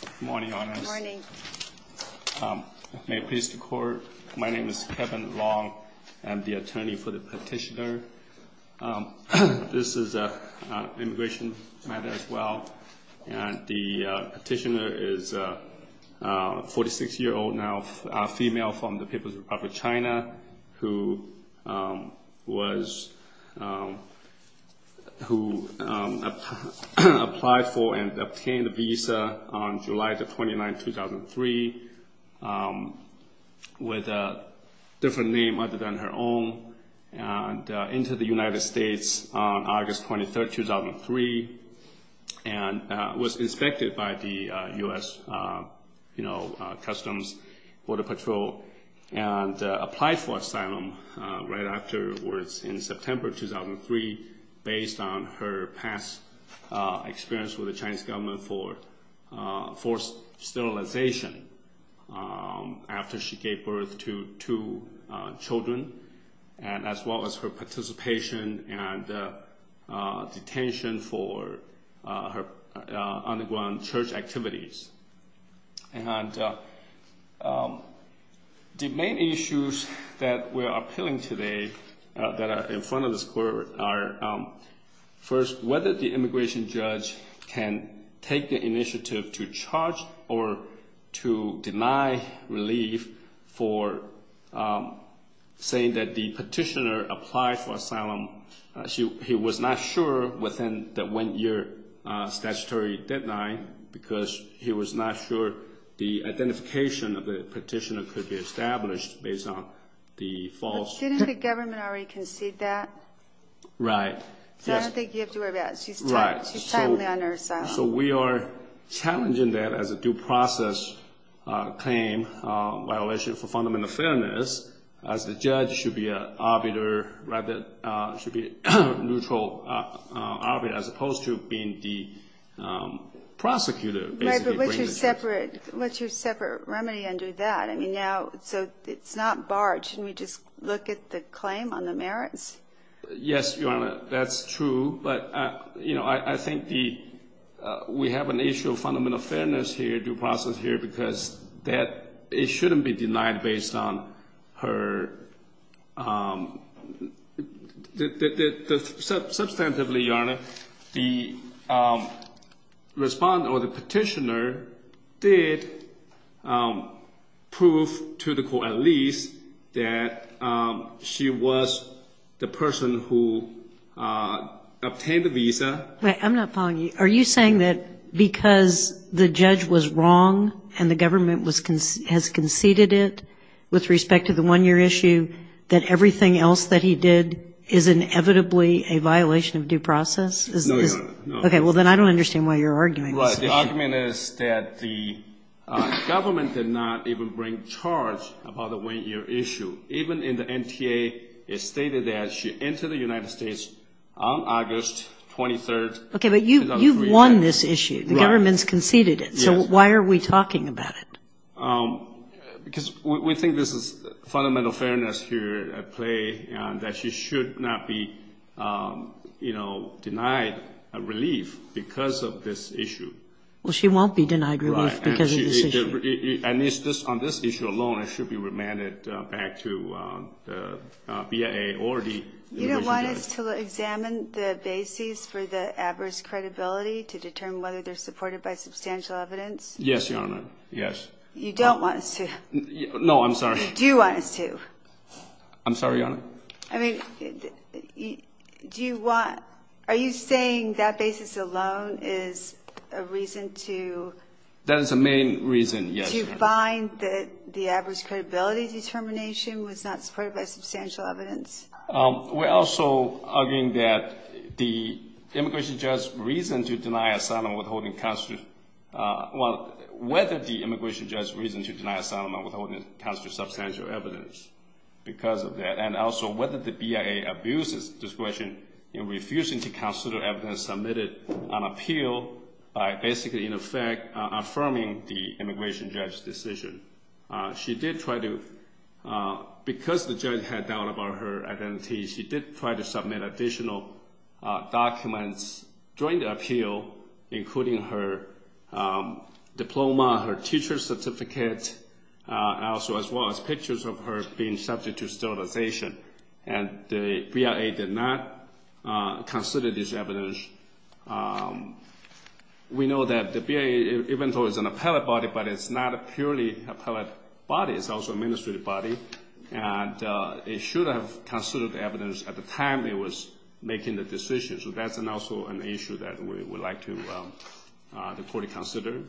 Good morning, Your Honor. Good morning. May it please the Court, my name is Kevin Long. I'm the attorney for the petitioner. This is an immigration matter as well, and the petitioner is a 46-year-old now, a female from the People's Republic of China, who was, who applied for and obtained a visa on July 29, 2003, with a different name other than her own, and entered the United States on August 23, 2003, and was inspected by the U.S. Customs Border Patrol, and applied for asylum right afterwards in September 2003, based on her past experience with the Chinese government for forced sterilization after she gave birth to two children, and as well as her participation and detention for her underground church activities. And the main issues that we are appealing today that are in front of this Court are, first, whether the immigration judge can take the initiative to charge or to deny relief for saying that the petitioner applied for asylum. He was not sure within the one-year statutory deadline, because he was not sure the identification of the petitioner could be established based on the false... But didn't the government already concede that? Right. So I don't think you have to worry about it. She's timely on her asylum. So we are challenging that as a due process claim, violation for fundamental fairness, as the judge should be a neutral arbiter, as opposed to being the prosecutor. Right, but what's your separate remedy under that? I mean, now, so it's not barred. Should we just look at the claim on the merits? Yes, Your Honor, that's true. But I think we have an issue of fundamental fairness here, due process here, because it shouldn't be denied based on her... Wait, I'm not following you. Are you saying that because the judge was wrong and the government has conceded it with respect to the one-year issue, that everything else that he did is inevitably a violation of due process? No, Your Honor. Okay, well, then I don't understand why you're arguing this issue. The argument is that the government did not even bring charge about the one-year issue. Even in the NTA, it stated that she entered the United States on August 23, 2007. Okay, but you've won this issue. The government's conceded it. So why are we talking about it? Because we think this is fundamental fairness here at play and that she should not be, you know, denied relief because of this issue. Well, she won't be denied relief because of this issue. Right. And it's just on this issue alone, it should be remanded back to the BIA or the... You don't want us to examine the bases for the adverse credibility to determine whether they're supported by substantial evidence? Yes, Your Honor. Yes. You don't want us to? No, I'm sorry. Do you want us to? I'm sorry, Your Honor? I mean, do you want... Are you saying that basis alone is a reason to... That is the main reason, yes. ...to find that the adverse credibility determination was not supported by substantial evidence? We're also arguing that the immigration judge's reason to deny asylum withholding... Well, whether the immigration judge's reason to deny asylum withholding constitutes substantial evidence because of that, and also whether the BIA abuses discretion in refusing to consider evidence submitted on appeal by basically, in effect, affirming the immigration judge's decision. She did try to... Because the judge had doubt about her identity, she did try to submit additional documents during the appeal, including her diploma, her teacher's certificate, and also as well as pictures of her being subject to sterilization. And the BIA did not consider this evidence. We know that the BIA, even though it's an appellate body, but it's not a purely appellate body. It's also an administrative body, and it should have considered the evidence at the time it was making the decision. So that's also an issue that we would like the court to consider.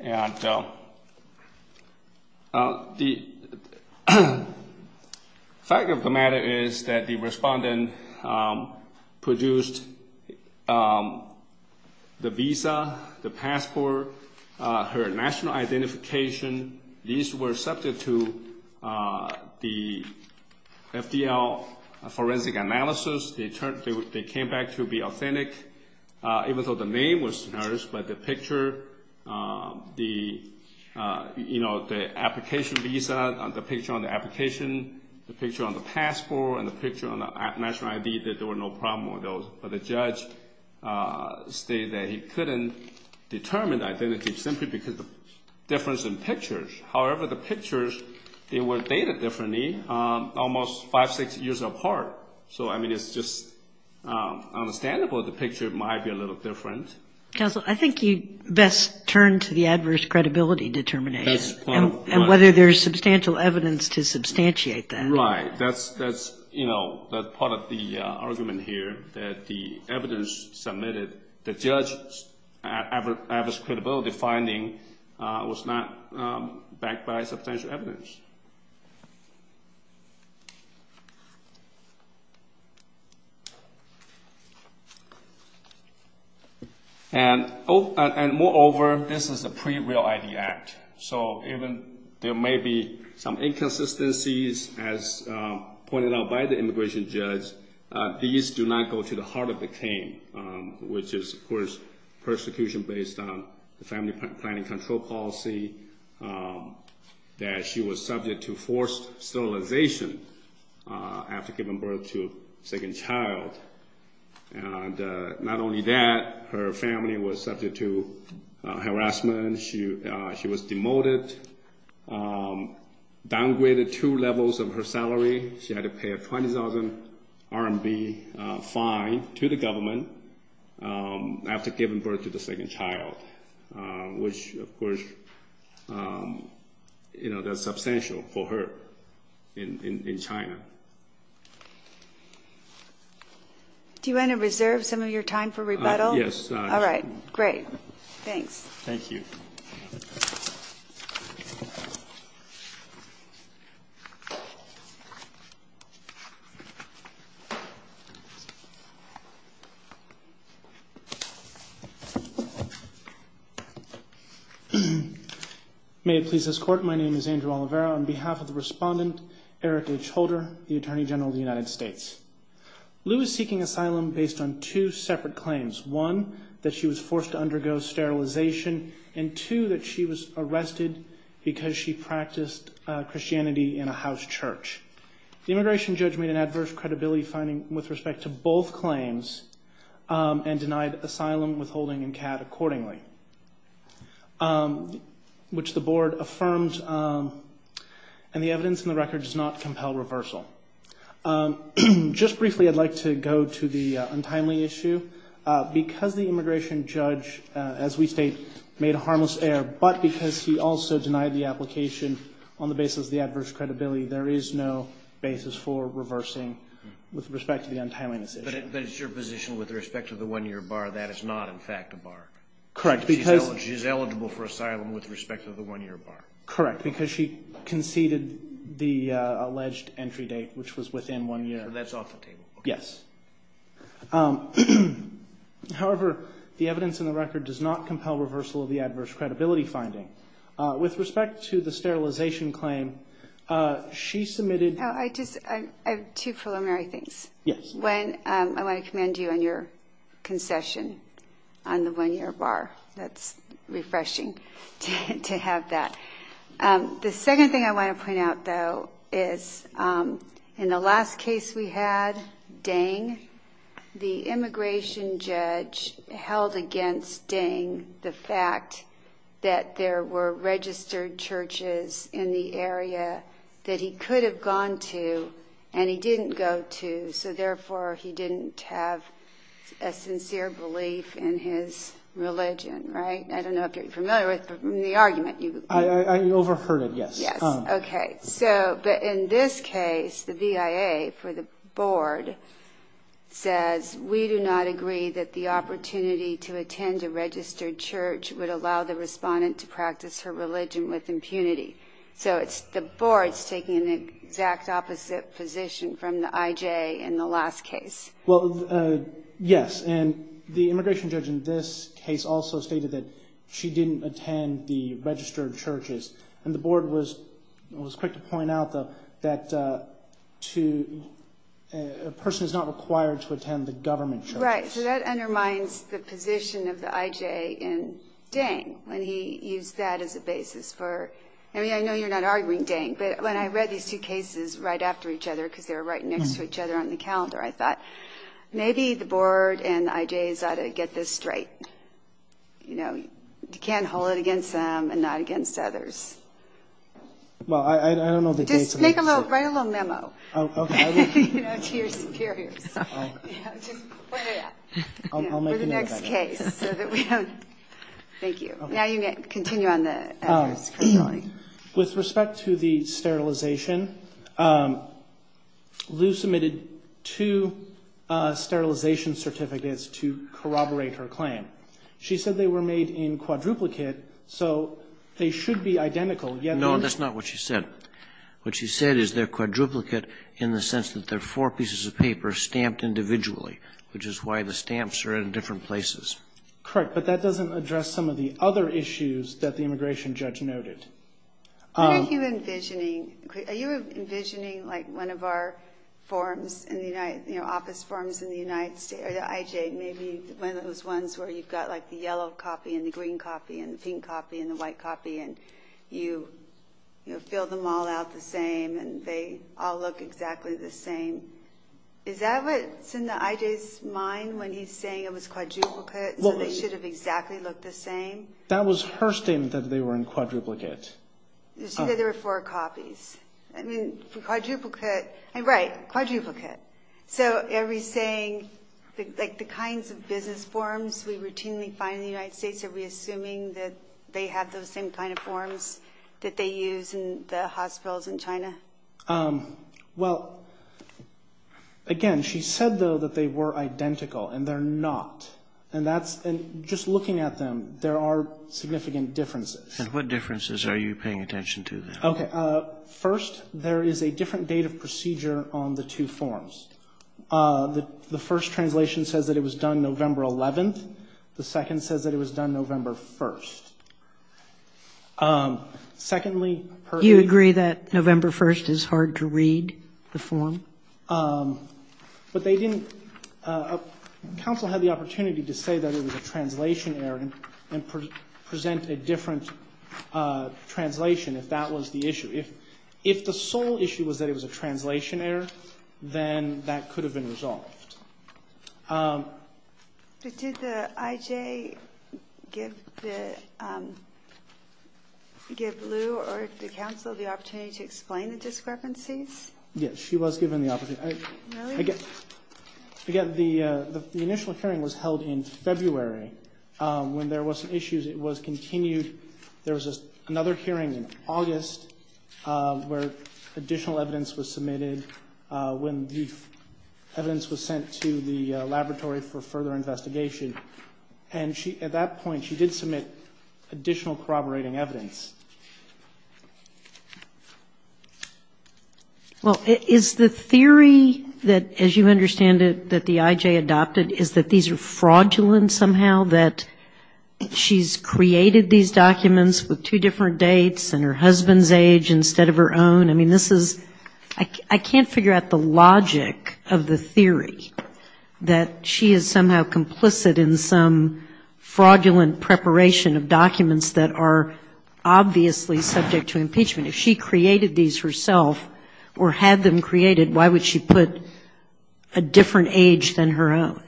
And the fact of the matter is that the respondent produced the visa, the passport, her national identification. These were accepted to the FDL forensic analysis. They came back to be authentic, even though the name was noticed, but the picture, the application visa, the picture on the application, the picture on the passport, and the picture on the national ID, that there were no problem with those. But the judge stated that he couldn't determine the identity simply because of the difference in pictures. However, the pictures, they were dated differently, almost five, six years apart. So, I mean, it's just understandable the picture might be a little different. Counsel, I think you best turn to the adverse credibility determination. And whether there's substantial evidence to substantiate that. Right. That's part of the argument here, that the evidence submitted, the judge's adverse credibility finding was not backed by substantial evidence. And moreover, this is a pre-Real ID Act. So there may be some inconsistencies, as pointed out by the immigration judge. These do not go to the heart of the claim, which is, of course, persecution based on the family planning control policy, that she was subject to forced sterilization after giving birth to a second child. And not only that, her family was subject to harassment. She was demoted, downgraded two levels of her salary. She had to pay a 20,000 RMB fine to the government after giving birth to the second child, which, of course, you know, that's substantial for her in China. Do you want to reserve some of your time for rebuttal? Yes. All right. Great. Thanks. Thank you. May it please this Court, my name is Andrew Oliveira. On behalf of the respondent, Eric H. Holder, the Attorney General of the United States. Lou is seeking asylum based on two separate claims. One, that she was forced to undergo sterilization. And two, that she was arrested because she practiced Christianity in a house church. The immigration judge made an adverse credibility finding with respect to both claims and denied asylum, withholding, and CAD accordingly, which the Board affirmed and the evidence in the record does not compel reversal. Just briefly, I'd like to go to the untimely issue. Because the immigration judge, as we state, made a harmless error, but because he also denied the application on the basis of the adverse credibility, there is no basis for reversing with respect to the untimely decision. But it's your position with respect to the one-year bar, that is not, in fact, a bar? Correct, because... She's eligible for asylum with respect to the one-year bar? Correct, because she conceded the alleged entry date, which was within one year. So that's off the table? Yes. However, the evidence in the record does not compel reversal of the adverse credibility finding. With respect to the sterilization claim, she submitted... I have two preliminary things. Yes. I want to commend you on your concession on the one-year bar. That's refreshing to have that. The second thing I want to point out, though, is in the last case we had, Dang, the immigration judge held against Dang the fact that there were registered churches in the area that he could have gone to and he didn't go to, so therefore he didn't have a sincere belief in his religion, right? I don't know if you're familiar with the argument. I overheard it, yes. Yes, okay. But in this case, the BIA for the board says, we do not agree that the opportunity to attend a registered church would allow the respondent to practice her religion with impunity. So the board's taking an exact opposite position from the IJ in the last case. Well, yes. And the immigration judge in this case also stated that she didn't attend the registered churches. And the board was quick to point out, though, that a person is not required to attend the government churches. Right. So that undermines the position of the IJ in Dang when he used that as a basis for, I mean, I know you're not arguing, Dang, but when I read these two cases right after each other because they were right next to each other on the calendar, I thought maybe the board and the IJs ought to get this straight. You know, you can't hold it against them and not against others. Well, I don't know the case. Just write a little memo. Oh, okay. To your superiors. I'll make a note of that. For the next case. Thank you. Now you can continue on the others. With respect to the sterilization, Lou submitted two sterilization certificates to corroborate her claim. She said they were made in quadruplicate, so they should be identical. No, that's not what she said. What she said is they're quadruplicate in the sense that they're four pieces of paper stamped individually, which is why the stamps are in different places. Correct. But that doesn't address some of the other issues that the immigration judge noted. What are you envisioning? Are you envisioning, like, one of our forms in the United, you know, office forms in the United States, or the IJ, maybe one of those ones where you've got, like, the yellow copy and the green copy and the pink copy and the white copy and you fill them all out the same and they all look exactly the same. Is that what's in the IJ's mind when he's saying it was quadruplicate, so they should have exactly looked the same? That was her statement that they were in quadruplicate. She said there were four copies. I mean, quadruplicate, right, quadruplicate. So are we saying, like, the kinds of business forms we routinely find in the same kind of forms that they use in the hospitals in China? Well, again, she said, though, that they were identical, and they're not. And that's just looking at them, there are significant differences. And what differences are you paying attention to? Okay. First, there is a different date of procedure on the two forms. The first translation says that it was done November 11th. The second says that it was done November 1st. Secondly, her ---- You agree that November 1st is hard to read, the form? But they didn't ---- Council had the opportunity to say that it was a translation error and present a different translation if that was the issue. If the sole issue was that it was a translation error, then that could have been resolved. But did the IJ give Lou or the council the opportunity to explain the discrepancies? Yes, she was given the opportunity. Really? Again, the initial hearing was held in February. When there were some issues, it was continued. There was another hearing in August where additional evidence was submitted. When the evidence was sent to the laboratory for further investigation. And at that point, she did submit additional corroborating evidence. Well, is the theory that, as you understand it, that the IJ adopted, is that these are fraudulent somehow, that she's created these documents with two different dates and her husband's age instead of her own? I mean, this is ---- I can't figure out the logic of the theory that she is somehow complicit in some fraudulent preparation of documents that are obviously subject to impeachment. If she created these herself or had them created, why would she put a different age than her own?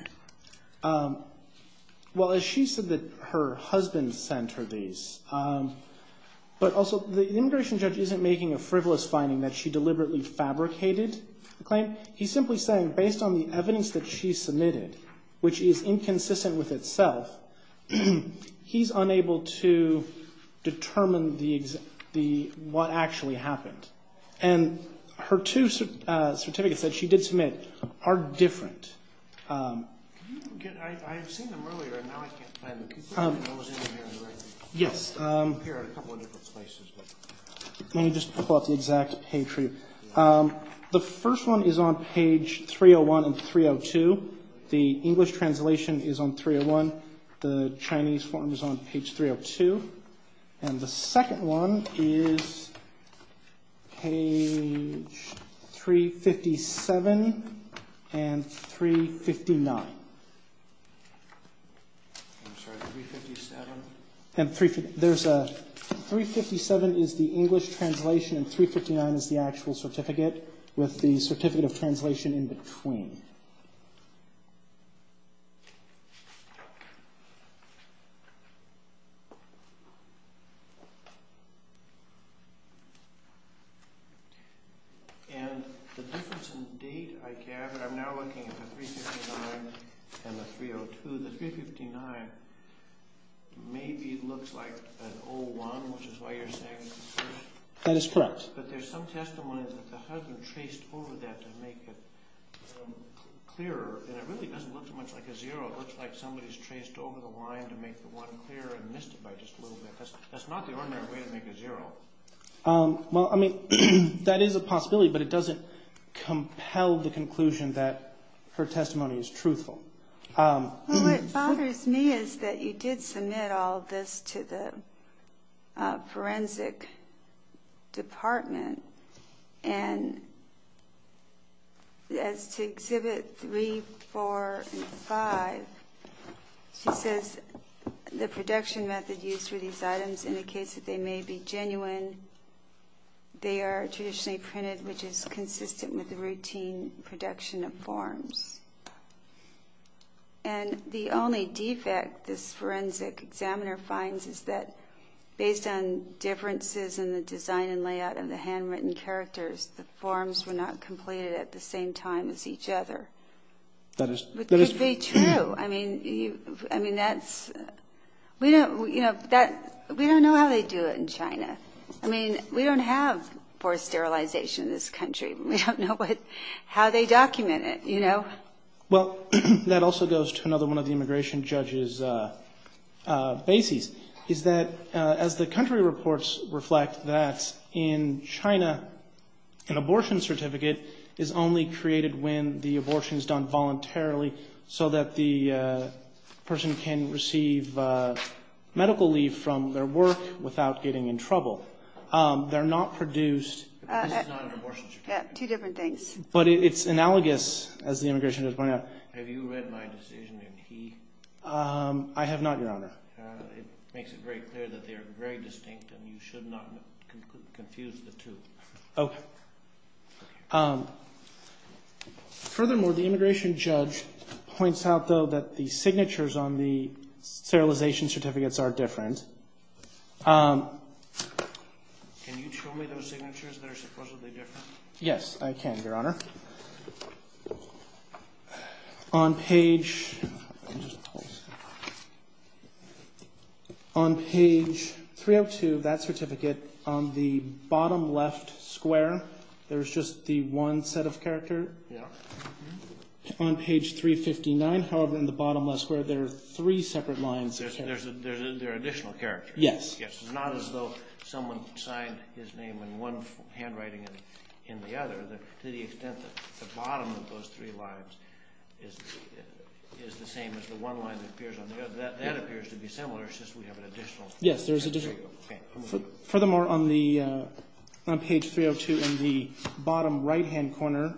Well, as she said that her husband sent her these. But also the immigration judge isn't making a frivolous finding that she deliberately fabricated the claim. He's simply saying based on the evidence that she submitted, which is inconsistent with itself, he's unable to determine what actually happened. And her two certificates that she did submit are different. I've seen them earlier and now I can't find them. Yes. Let me just pull up the exact page for you. The first one is on page 301 and 302. The English translation is on 301. The Chinese form is on page 302. And the second one is page 357 and 359. 357 is the English translation and 359 is the actual certificate with the certificate of translation in between. And the difference in date, I gather, I'm now looking at the 359 and the 302. The 359 maybe looks like an 01, which is why you're saying it's a 0. That is correct. But there's some testimony that the husband traced over that to make it clearer. And it really doesn't look too much like a 0. It looks like somebody's traced over the line to make the 1 clearer and missed it by just a little bit. That's not the ordinary way to make a 0. Well, I mean, that is a possibility, but it doesn't compel the conclusion that her testimony is truthful. Well, what bothers me is that you did submit all this to the forensic department. And as to Exhibit 3, 4, and 5, she says, the production method used for these items indicates that they may be genuine. They are traditionally printed, which is consistent with the routine production of forms. And the only defect this forensic examiner finds is that, based on differences in the design and layout of the handwritten characters, the forms were not completed at the same time as each other. That is true. I mean, we don't know how they do it in China. I mean, we don't have forced sterilization in this country. We don't know how they document it, you know? Well, that also goes to another one of the immigration judge's bases, is that as the country reports reflect that in China, an abortion certificate is only created when the abortion is done voluntarily so that the person can receive medical leave from their work without getting in trouble. They're not produced. This is not an abortion certificate. Two different things. But it's analogous, as the immigration judge pointed out. Have you read my decision in He? I have not, Your Honor. It makes it very clear that they are very distinct, and you should not confuse the two. Okay. Furthermore, the immigration judge points out, though, that the signatures on the sterilization certificates are different. Can you show me those signatures that are supposedly different? Yes, I can, Your Honor. On page 302 of that certificate, on the bottom left square, there's just the one set of character. Yeah. On page 359, however, in the bottom left square, there are three separate lines. There are additional characters. Yes. It's not as though someone signed his name in one handwriting in the other. To the extent that the bottom of those three lines is the same as the one line that appears on the other, that appears to be similar, it's just we have an additional. Yes, there's additional. Okay. Furthermore, on page 302 in the bottom right-hand corner,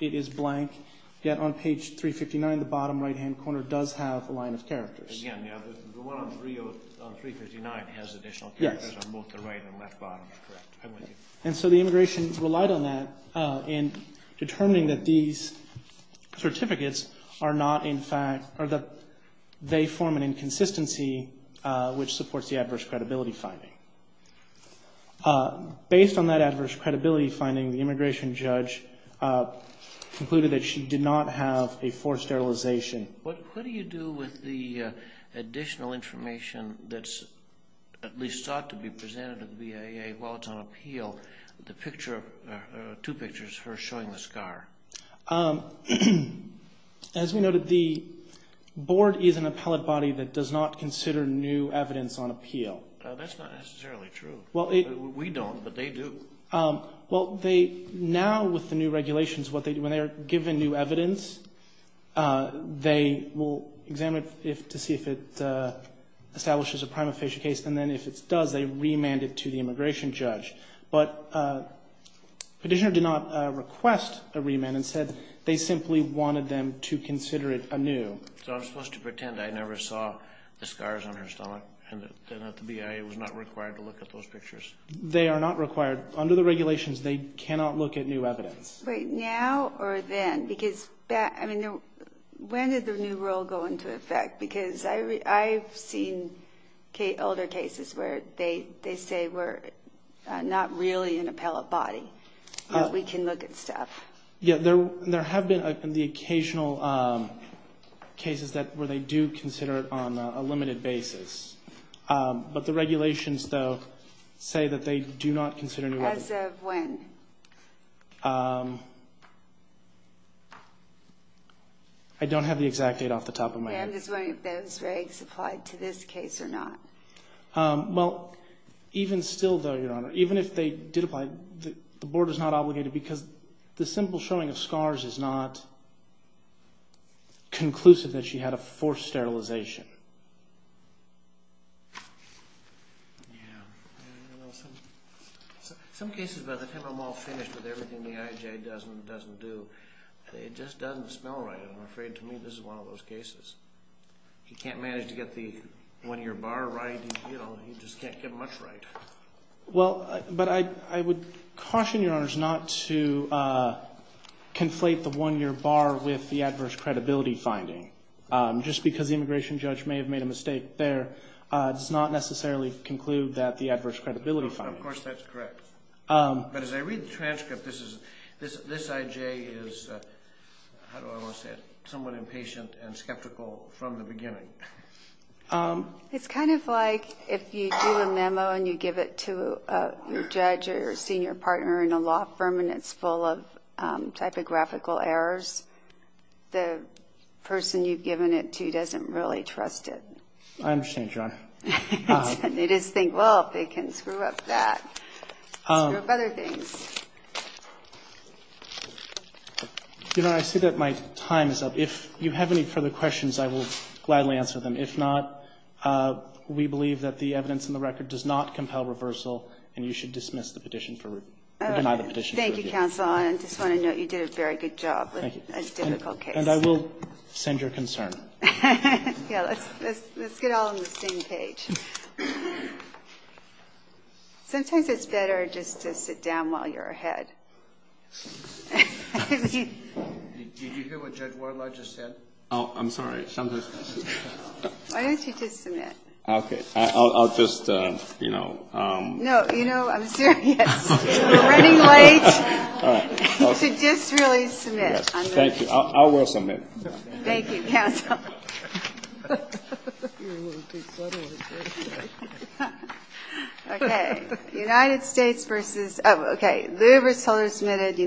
it is blank. Yet on page 359, the bottom right-hand corner does have a line of characters. Again, the one on 359 has additional characters on both the right and left bottom. Correct. And so the immigration relied on that in determining that these certificates are not in fact or that they form an inconsistency which supports the adverse credibility finding. Based on that adverse credibility finding, the immigration judge concluded that she did not have a forced sterilization. What do you do with the additional information that's at least thought to be presented to the BAA while it's on appeal, the two pictures showing the scar? As we noted, the Board is an appellate body that does not consider new evidence on appeal. That's not necessarily true. We don't, but they do. Well, they now with the new regulations, when they are given new evidence, they will examine it to see if it establishes a prima facie case. And then if it does, they remand it to the immigration judge. But the petitioner did not request a remand and said they simply wanted them to consider it anew. So I'm supposed to pretend I never saw the scars on her stomach and that the BAA was not required to look at those pictures? They are not required. Under the regulations, they cannot look at new evidence. Wait, now or then? Because when did the new rule go into effect? Because I've seen older cases where they say we're not really an appellate body. We can look at stuff. Yeah, there have been the occasional cases where they do consider it on a limited basis. But the regulations, though, say that they do not consider new evidence. As of when? I don't have the exact date off the top of my head. I'm just wondering if those regs applied to this case or not. Well, even still, though, Your Honor, even if they did apply, the Board is not obligated because the simple showing of scars is not conclusive that she had a forced sterilization. Some cases, by the time I'm all finished with everything the IJ does and doesn't do, it just doesn't smell right. I'm afraid to me this is one of those cases. If you can't manage to get the one-year bar right, you just can't get much right. Well, but I would caution Your Honors not to conflate the one-year bar with the adverse credibility finding. Just because the immigration judge may have made a mistake there does not necessarily conclude that the adverse credibility finding. Of course, that's correct. But as I read the transcript, this IJ is, how do I want to say it, somewhat impatient and skeptical from the beginning. It's kind of like if you do a memo and you give it to a judge or senior partner in a law firm and it's full of typographical errors, the person you've given it to doesn't really trust it. I understand, Your Honor. They just think, well, if they can screw up that, screw up other things. Your Honor, I see that my time is up. If you have any further questions, I will gladly answer them. If not, we believe that the evidence in the record does not compel reversal and you should dismiss the petition for review. All right. Thank you, counsel. I just want to note you did a very good job with a difficult case. And I will send your concern. Yes. Let's get all on the same page. Sometimes it's better just to sit down while you're ahead. Did you hear what Judge Wardlaw just said? Why don't you just submit? Okay. I'll just, you know. No, you know, I'm serious. We're running late. You should just really submit. Thank you. I will submit. Thank you, counsel. You're a little too subtle, aren't you? Okay. United States versus... Oh, okay. Louis Ritz-Heller submitted. United States versus...